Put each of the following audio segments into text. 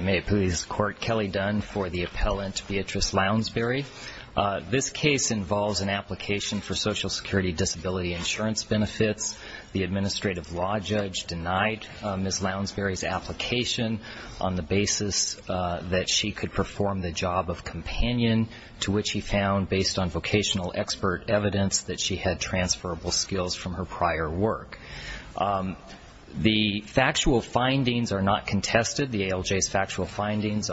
May it please the Court, Kelly Dunn for the appellant Beatrice Lounsbury. This case involves an application for social security disability insurance benefits. The administrative law judge denied Ms. Lounsbury's application on the basis that she could perform the job of companion, to which he found, based on vocational expert evidence, that she had transferable skills from her prior work. The factual findings are not contested. The ALJ's factual findings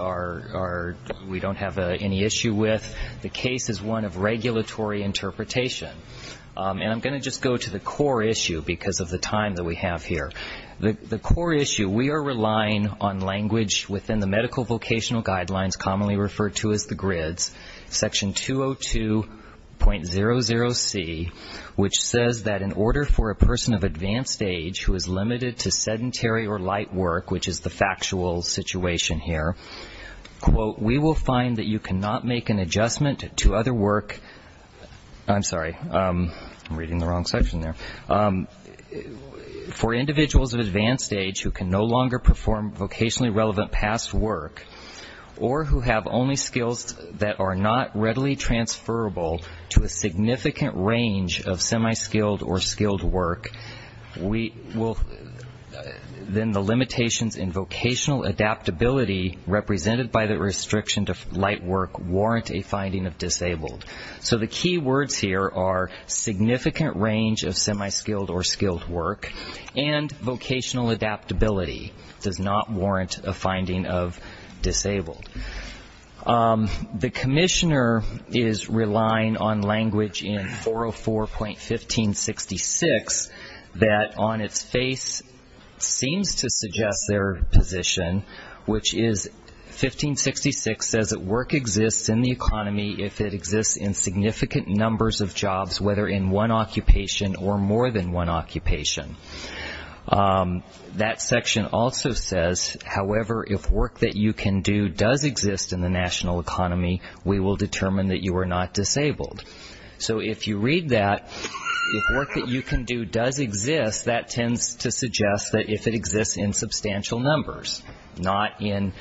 we don't have any issue with. The case is one of regulatory interpretation. And I'm going to just go to the core issue because of the time that we have here. The core issue, we are relying on language within the medical vocational guidelines commonly referred to as the grids, section 202.00C, which says that in order for a person of advanced age who is limited to sedentary or light work, which is the factual situation here, quote, we will find that you cannot make an adjustment to other work. I'm sorry. I'm reading the wrong section there. For individuals of advanced age who can no longer perform vocationally relevant past work or who have only skills that are not readily transferable to a significant range of semi-skilled or skilled work, then the limitations in vocational adaptability represented by the restriction to light work warrant a finding of disabled. So the key words here are significant range of semi-skilled or skilled work and vocational adaptability does not warrant a finding of disabled. The commissioner is relying on language in 404.1566 that on its face seems to suggest their position, which is 1566 says that work exists in the economy if it exists in significant numbers of jobs, whether in one occupation or more than one occupation. That section also says, however, if work that you can do does exist in the national economy, we will determine that you are not disabled. So if you read that, if work that you can do does exist, that tends to suggest that if it exists in substantial numbers, not in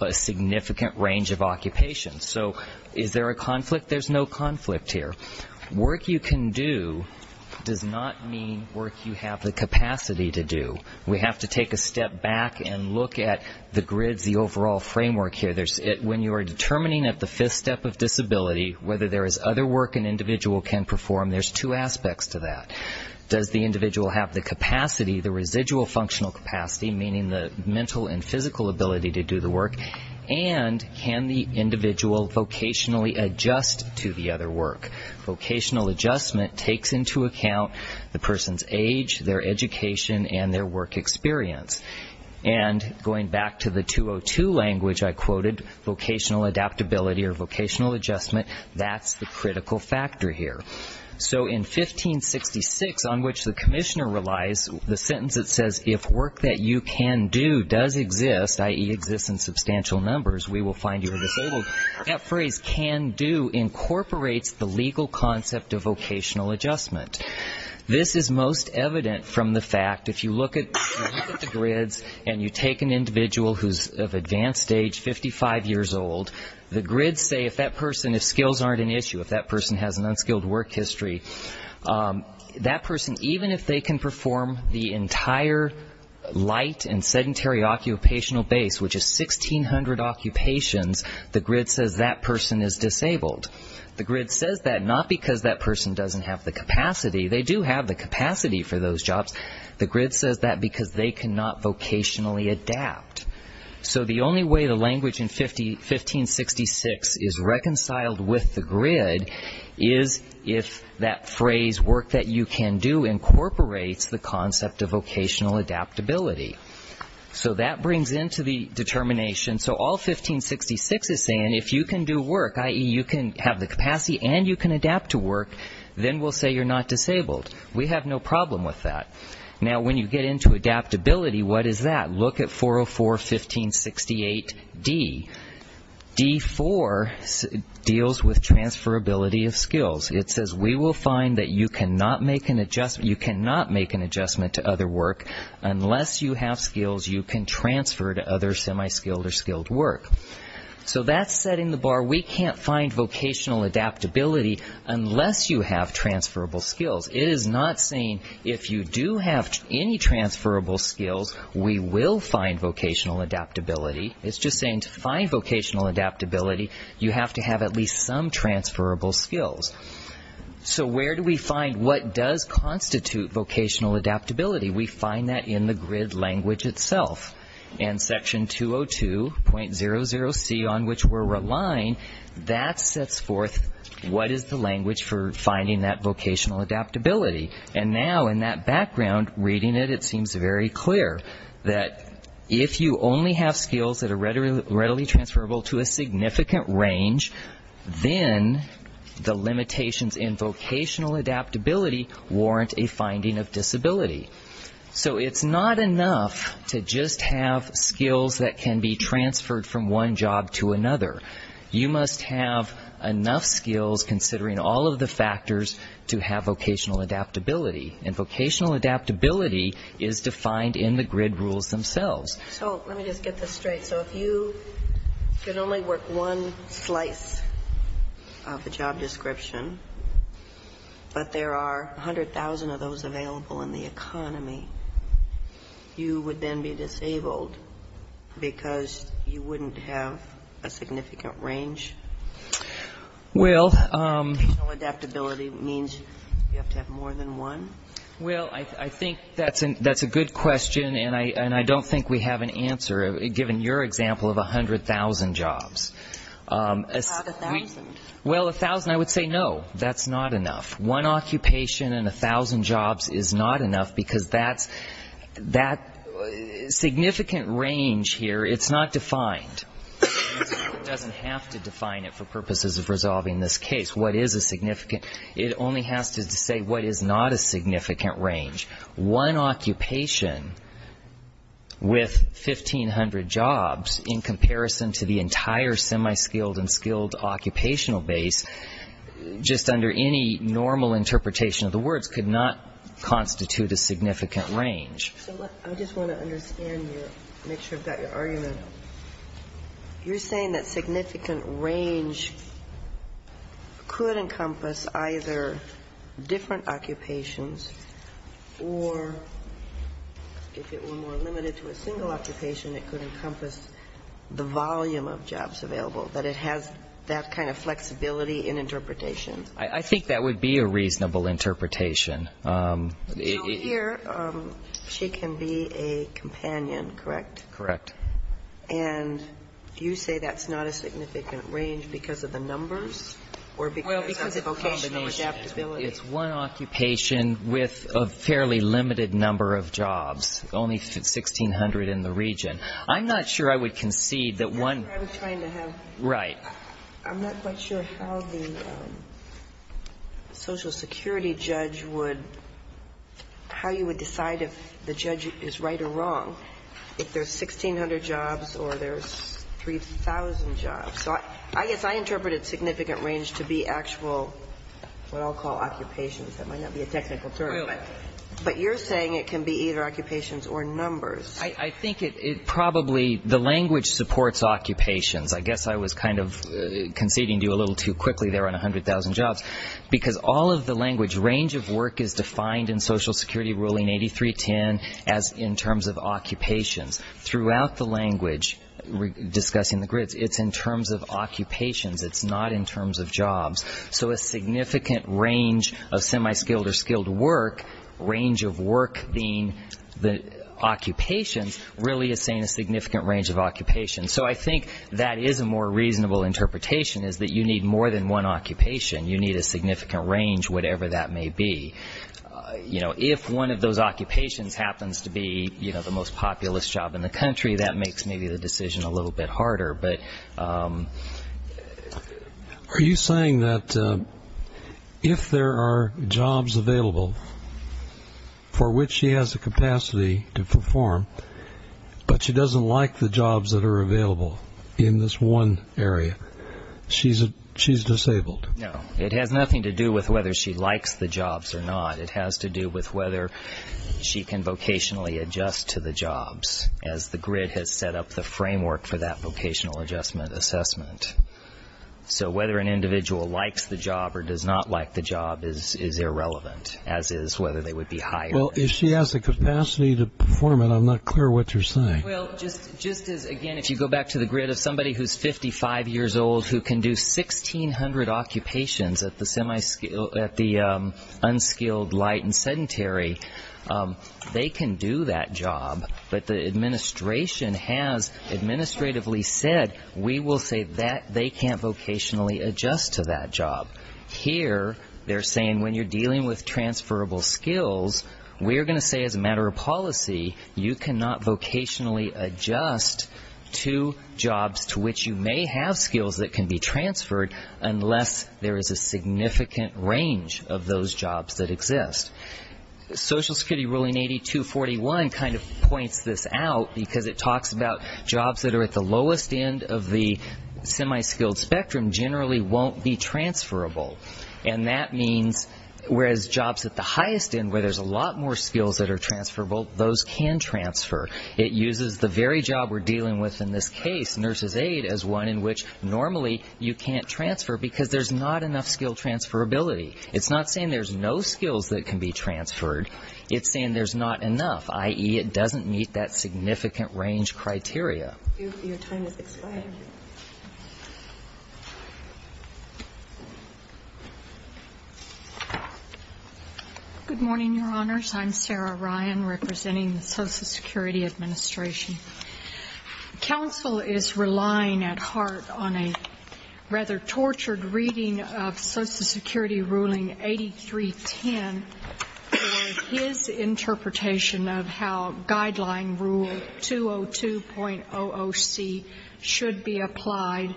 a significant range of occupations. So is there a conflict? There's no conflict here. Work you can do does not mean work you have the capacity to do. We have to take a step back and look at the grids, the overall framework here. When you are determining at the fifth step of disability whether there is other work an individual can perform, there's two aspects to that. Does the individual have the capacity, the residual functional capacity, meaning the mental and physical ability to do the work, and can the individual vocationally adjust to the other work? Vocational adjustment takes into account the person's age, their education, and their work experience. And going back to the 202 language I quoted, vocational adaptability or vocational adjustment, that's the critical factor here. So in 1566, on which the commissioner relies, the sentence that says if work that you can do does exist, i.e., exists in substantial numbers, we will find you are disabled, that phrase can do incorporates the legal concept of vocational adjustment. This is most evident from the fact, if you look at the grids and you take an individual who's of advanced age, 55 years old, the grids say if that person, if skills aren't an issue, if that person has an unskilled work history, that person, even if they can perform the entire light and sedentary occupational base, which is 1,600 occupations, the grid says that person is disabled. The grid says that not because that person doesn't have the capacity, they do have the capacity for those jobs, the grid says that because they cannot vocationally adapt. So the only way the language in 1566 is reconciled with the grid is if that phrase work that you can do incorporates the concept of vocational adaptability. So that brings into the determination, so all 1566 is saying if you can do work, i.e., you can have the capacity and you can adapt to work, then we'll say you're not disabled. We have no problem with that. Now, when you get into adaptability, what is that? Look at 404, 1568d. D4 deals with transferability of skills. It says we will find that you cannot make an adjustment to other work unless you have skills you can transfer to other semi-skilled or skilled work. So that's setting the bar. We can't find vocational adaptability unless you have transferable skills. It is not saying if you do have any transferable skills, we will find vocational adaptability. It's just saying to find vocational adaptability, you have to have at least some transferable skills. So where do we find what does constitute vocational adaptability? We find that in the grid language itself. And section 202.00c on which we're relying, that sets forth what is the language for finding that vocational adaptability. And now in that background, reading it, it seems very clear that if you only have skills that are readily transferable to a significant range, then the limitations in vocational adaptability warrant a finding of disability. So it's not enough to just have skills that can be transferred from one job to another. You must have enough skills, considering all of the factors, to have vocational adaptability. And vocational adaptability is defined in the grid rules themselves. So let me just get this straight. So if you could only work one slice of the job description, but there are 100,000 of those available in the economy, you would then be disabled because you wouldn't have a significant range? Well, I think that's a good question, and I don't think we have an answer, given your example of 100,000 jobs. Not 1,000. Well, 1,000, I would say no, that's not enough. One occupation and 1,000 jobs is not enough because that significant range here, it's not defined. It doesn't have to define it for purposes of resolving this case. What is a significant? It only has to say what is not a significant range. One occupation with 1,500 jobs, in comparison to the entire semi-skilled and skilled occupational base, just under any normal interpretation of the words, could not constitute a significant range. I just want to understand you, make sure I've got your argument. You're saying that significant range could encompass either different occupations or, if it were more limited to a single occupation, it could encompass the volume of jobs available, that it has that kind of flexibility in interpretation? I think that would be a reasonable interpretation. Here, she can be a companion, correct? Correct. And you say that's not a significant range because of the numbers or because of the vocational adaptability? Well, because of the combination. It's one occupation with a fairly limited number of jobs, only 1,600 in the region. I'm not sure I would concede that one. That's what I was trying to have. Right. I'm not quite sure how the social security judge would, how you would decide if the there's 3,000 jobs. So I guess I interpreted significant range to be actual what I'll call occupations. That might not be a technical term, but you're saying it can be either occupations or numbers. I think it probably, the language supports occupations. I guess I was kind of conceding to you a little too quickly there on 100,000 jobs, because all of the language, range of work is defined in Social Security ruling 8310 as in terms of occupations. Throughout the language discussing the grids, it's in terms of occupations. It's not in terms of jobs. So a significant range of semi-skilled or skilled work, range of work being the occupations, really is saying a significant range of occupations. So I think that is a more reasonable interpretation is that you need more than one occupation. You need a significant range, whatever that may be. If one of those occupations happens to be the most populous job in the country, that makes maybe the decision a little bit harder. But... Are you saying that if there are jobs available for which she has the capacity to perform, but she doesn't like the jobs that are available in this one area, she's disabled? No. It has nothing to do with whether she likes the jobs or not. It has to do with whether she can vocationally adjust to the jobs, as the grid has set up the framework for that vocational adjustment assessment. So whether an individual likes the job or does not like the job is irrelevant, as is whether they would be hired. Well, if she has the capacity to perform it, I'm not clear what you're saying. Well, just as, again, if you go back to the grid of somebody who's 55 years old who can do 1,600 occupations at the unskilled, light, and sedentary, they can do that job. But the administration has administratively said, we will say that they can't vocationally adjust to that job. Here they're saying when you're dealing with transferable skills, we are going to say as a matter of policy, you cannot vocationally adjust to jobs to which you may have skills that can be transferred unless there is a significant range of those jobs that exist. Social Security ruling 8241 kind of points this out because it talks about jobs that are at the lowest end of the semi-skilled spectrum generally won't be transferable. And that means whereas jobs at the highest end where there's a lot more skills that are transferable, those can transfer. It uses the very job we're dealing with in this case, nurse's aid, as one in which normally you can't transfer because there's not enough skill transferability. It's not saying there's no skills that can be transferred. It's saying there's not enough, i.e., it doesn't meet that significant range criteria. Your time has expired. Good morning, Your Honors. I'm Sarah Ryan representing the Social Security Administration. Counsel is relying at heart on a rather tortured reading of Social Security ruling 8310 and his interpretation of how guideline rule 202.00c should be applied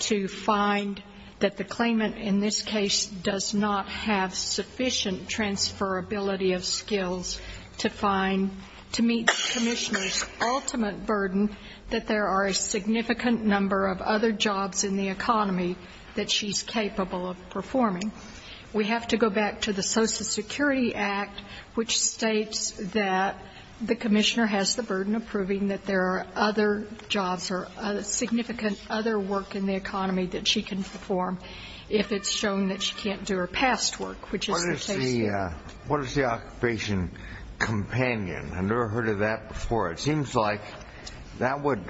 to find that the claimant in this case does not have sufficient transferability of skills to meet the commissioner's ultimate burden that there are a significant number of other jobs in the economy that she's capable of performing. We have to go back to the Social Security Act, which states that the commissioner has the burden of proving that there are other jobs or significant other work in the economy that she can perform if it's shown that she can't do her past work, which is the case here. What is the occupation companion? I've never heard of that before. It seems like that would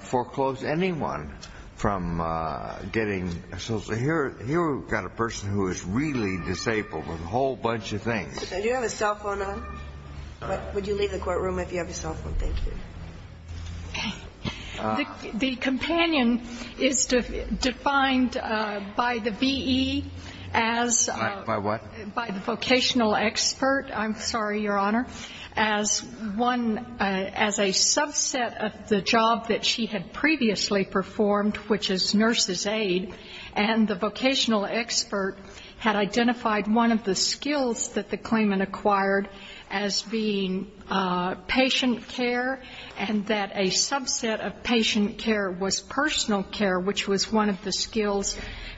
foreclose anyone from getting social. Here we've got a person who is really disabled with a whole bunch of things. Do you have a cell phone on? Would you leave the courtroom if you have a cell phone? Thank you. The companion is defined by the V.E. as by what? By the vocational expert. I'm sorry, Your Honor. As one, as a subset of the job that she had previously performed, which is nurse's aid, and the vocational expert had identified one of the skills that the claimant acquired as being patient care, and that a subset of patient care was personal care, which was one of the skills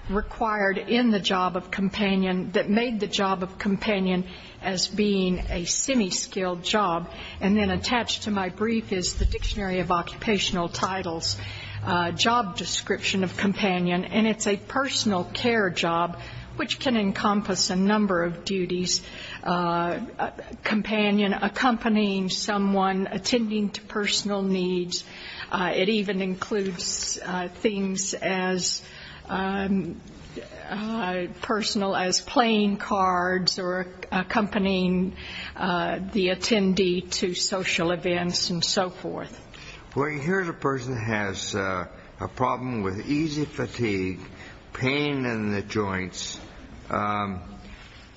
required in the job of companion that made the job of companion as being a semi-skilled job. And then attached to my brief is the Dictionary of Occupational Titles, Job Description of Companion, and it's a personal care job, which can encompass a number of duties. Companion, accompanying someone, attending to personal needs. It even includes things as personal as playing cards or accompanying the attendee to social events and so forth. Well, here's a person who has a problem with easy fatigue, pain in the joints,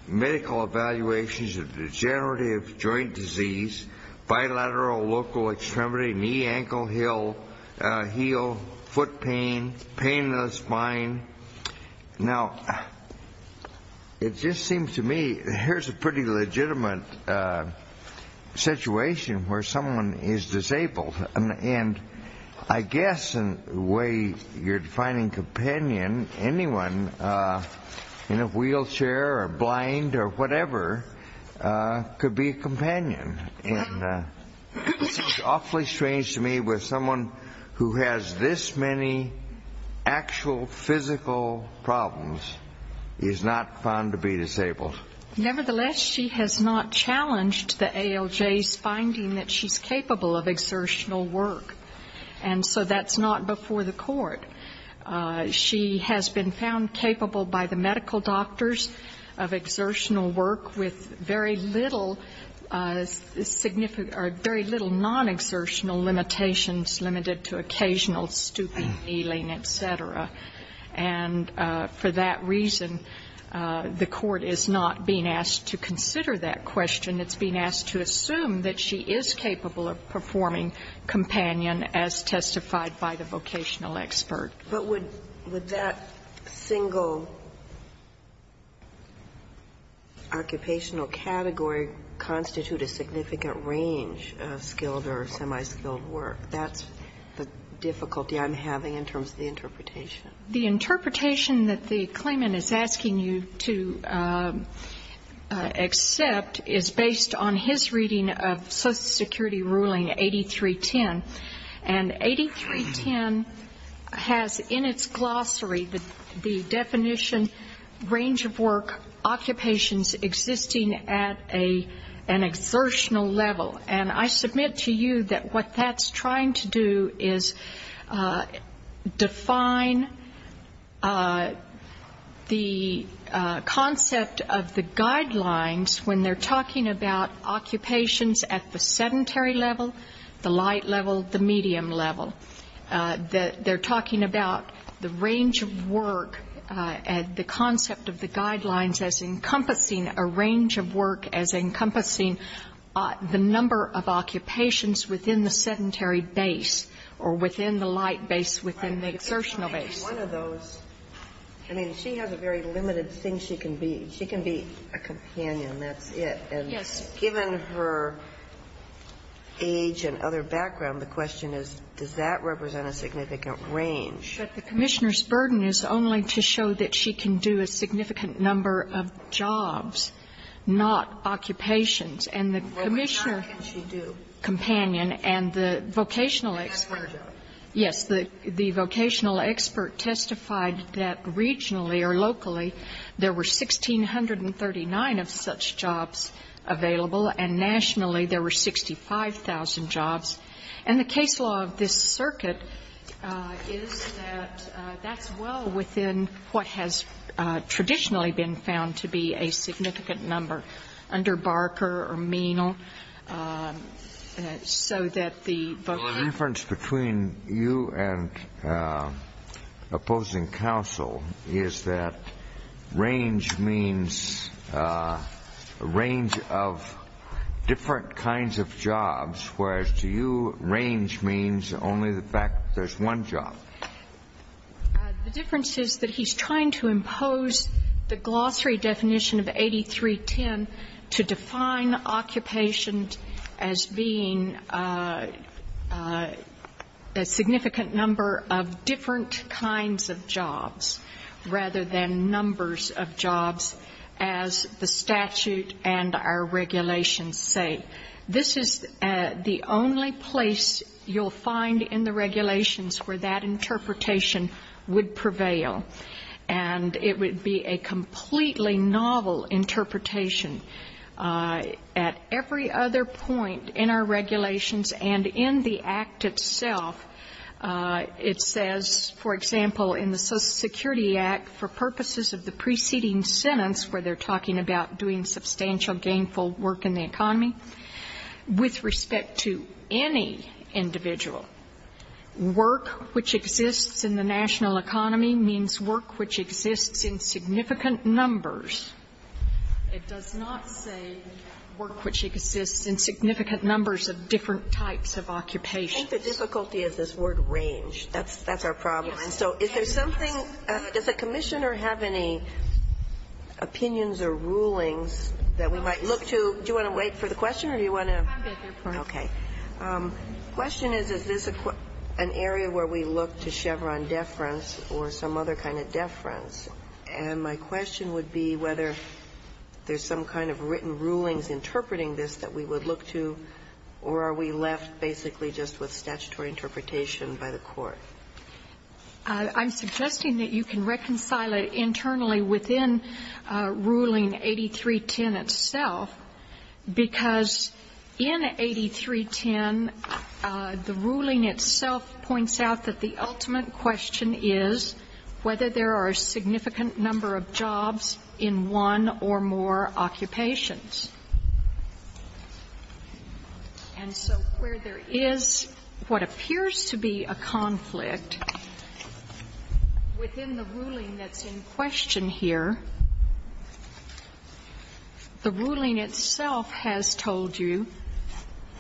medical evaluations of degenerative joint disease, bilateral local extremity, knee, ankle, heel, foot pain, pain in the spine. Now, it just seems to me here's a pretty legitimate situation where someone is disabled. And I guess in the way you're defining companion, anyone in a wheelchair or blind or whatever could be a companion. And it seems awfully strange to me where someone who has this many actual physical problems is not found to be disabled. Nevertheless, she has not challenged the ALJ's finding that she's capable of exertional work. And so that's not before the court. She has been found capable by the medical doctors of exertional work with very little significant or very little non-exertional limitations limited to occasional stooping, kneeling, et cetera. And for that reason, the court is not being asked to consider that question. It's being asked to assume that she is capable of performing companion as testified by the vocational expert. But would that single occupational category constitute a significant range of skilled or semi-skilled work? That's the difficulty I'm having in terms of the interpretation. The interpretation that the claimant is asking you to accept is based on his reading of Social Security ruling 8310. And 8310 has in its glossary the definition, range of work occupations existing at an exertional level. And I submit to you that what that's trying to do is define the concept of the guidelines when they're talking about occupations at the sedentary level, the light level, the medium level. They're talking about the range of work and the concept of the guidelines as encompassing a range of work, as encompassing the number of occupations within the sedentary base or within the light base, within the exertional base. One of those, I mean, she has a very limited thing she can be. She can be a companion, that's it. And given her age and other background, the question is, does that represent a significant range? But the Commissioner's burden is only to show that she can do a significant number of jobs, not occupations. And the Commissioner companion and the vocational expert. And that's one job. Yes. The vocational expert testified that regionally or locally there were 1,639 of such jobs available, and nationally there were 65,000 jobs. And the case law of this circuit is that that's well within what has traditionally been found to be a significant number under Barker or Menal, so that the vocational expert can do a significant number of jobs. The difference between you and opposing counsel is that range means a range of different kinds of jobs, whereas to you range means only the fact there's one job. The difference is that he's trying to impose the glossary definition of 8310 to define occupation as being a significant number of different kinds of jobs, rather than numbers of jobs, as the statute and our regulations say. This is the only place you'll find in the regulations where that interpretation would prevail, and it would be a completely novel interpretation. At every other point in our regulations and in the Act itself, it says, for example, in the Social Security Act, for purposes of the preceding sentence where they're talking about doing substantial gainful work in the economy, with respect to any individual, work which exists in the national economy means work which exists in significant numbers. It does not say work which exists in significant numbers of different types of occupations. I think the difficulty is this word range. That's our problem. And so is there something, does the Commissioner have any opinions or rulings that we might look to? Do you want to wait for the question or do you want to? Okay. The question is, is this an area where we look to Chevron deference or some other kind of deference, and my question would be whether there's some kind of written rulings interpreting this that we would look to, or are we left basically just with I'm suggesting that you can reconcile it internally within Ruling 8310 itself, because in 8310, the ruling itself points out that the ultimate question is whether there are a significant number of jobs in one or more occupations. And so where there is what appears to be a conflict within the ruling that's in question here, the ruling itself has told you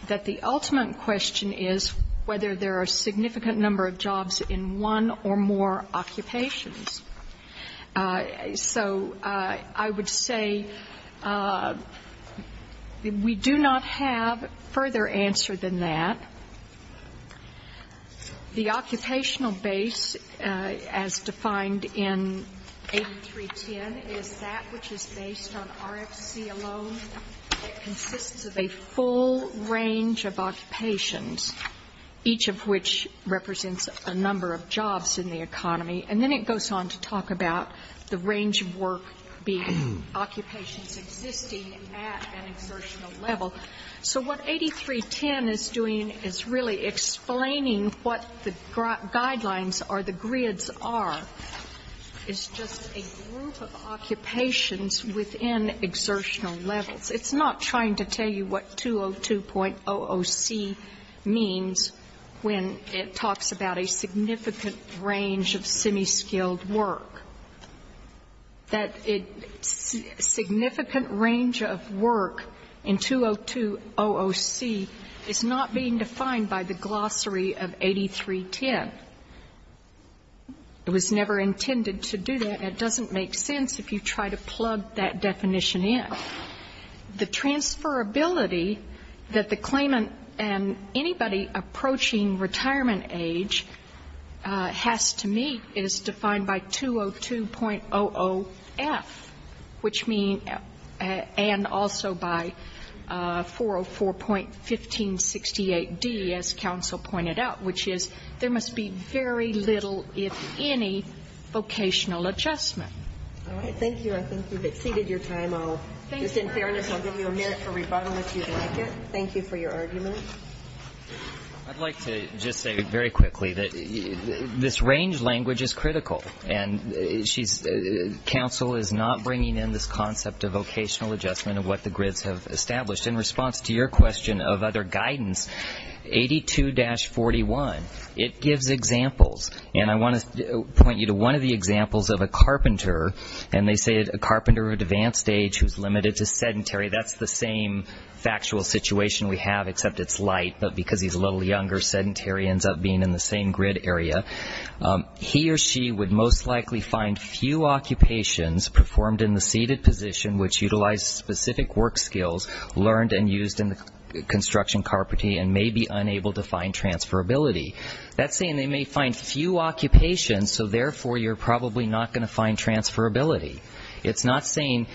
that the ultimate question is whether there are a significant number of jobs in one or more occupations. So I would say we do not have further answer than that. The occupational base as defined in 8310 is that which is based on RFC alone. It consists of a full range of occupations, each of which represents a number of jobs in the economy. And then it goes on to talk about the range of work being occupations existing at an exertional level. So what 8310 is doing is really explaining what the guidelines or the grids are. It's just a group of occupations within exertional levels. It's not trying to tell you what 202.00c means when it talks about a significant range of semiskilled work, that a significant range of work in 202.00c is not being defined by the glossary of 8310. It was never intended to do that, and it doesn't make sense if you try to plug that definition in. The transferability that the claimant and anybody approaching retirement age have has to meet is defined by 202.00f, which means, and also by 404.1568d, as counsel pointed out, which is there must be very little, if any, vocational adjustment. All right. Thank you. I think we've exceeded your time. Just in fairness, I'll give you a minute for rebuttal if you'd like it. Thank you for your argument. I'd like to just say very quickly that this range language is critical, and she's counsel is not bringing in this concept of vocational adjustment of what the grids have established. In response to your question of other guidance, 82-41, it gives examples, and I want to point you to one of the examples of a carpenter, and they say a carpenter at advanced age who's limited to sedentary. That's the same factual situation we have except it's light, but because he's a little younger, sedentary ends up being in the same grid area. He or she would most likely find few occupations performed in the seated position which utilize specific work skills learned and used in the construction carpentry and may be unable to find transferability. That's saying they may find few occupations, so therefore you're probably not going to find transferability. It's not saying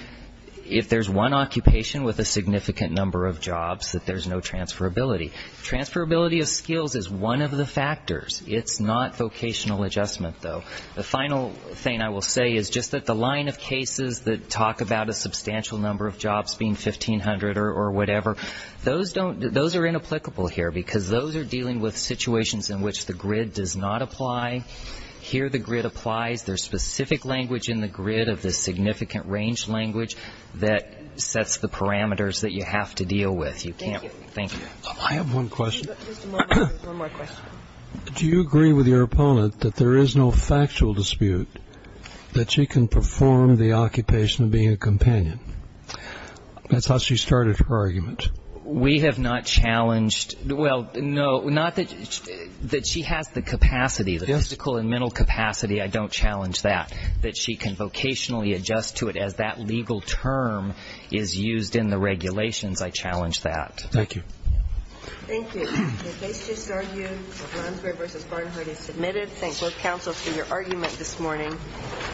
if there's one occupation with a significant number of jobs that there's no transferability. Transferability of skills is one of the factors. It's not vocational adjustment, though. The final thing I will say is just that the line of cases that talk about a substantial number of jobs being 1,500 or whatever, those are inapplicable here because those are dealing with situations in which the grid does not apply. Here the grid applies. There's specific language in the grid of the significant range language that sets the parameters that you have to deal with. You can't. Thank you. I have one question. Just a moment. One more question. Do you agree with your opponent that there is no factual dispute that she can perform the occupation of being a companion? That's how she started her argument. We have not challenged. Well, no, not that she has the capacity, the physical and mental capacity. I don't challenge that. That she can vocationally adjust to it as that legal term is used in the regulations, I challenge that. Thank you. Thank you. The case just argued of Lansbury v. Barnhart is submitted. Thank both counsels for your argument this morning.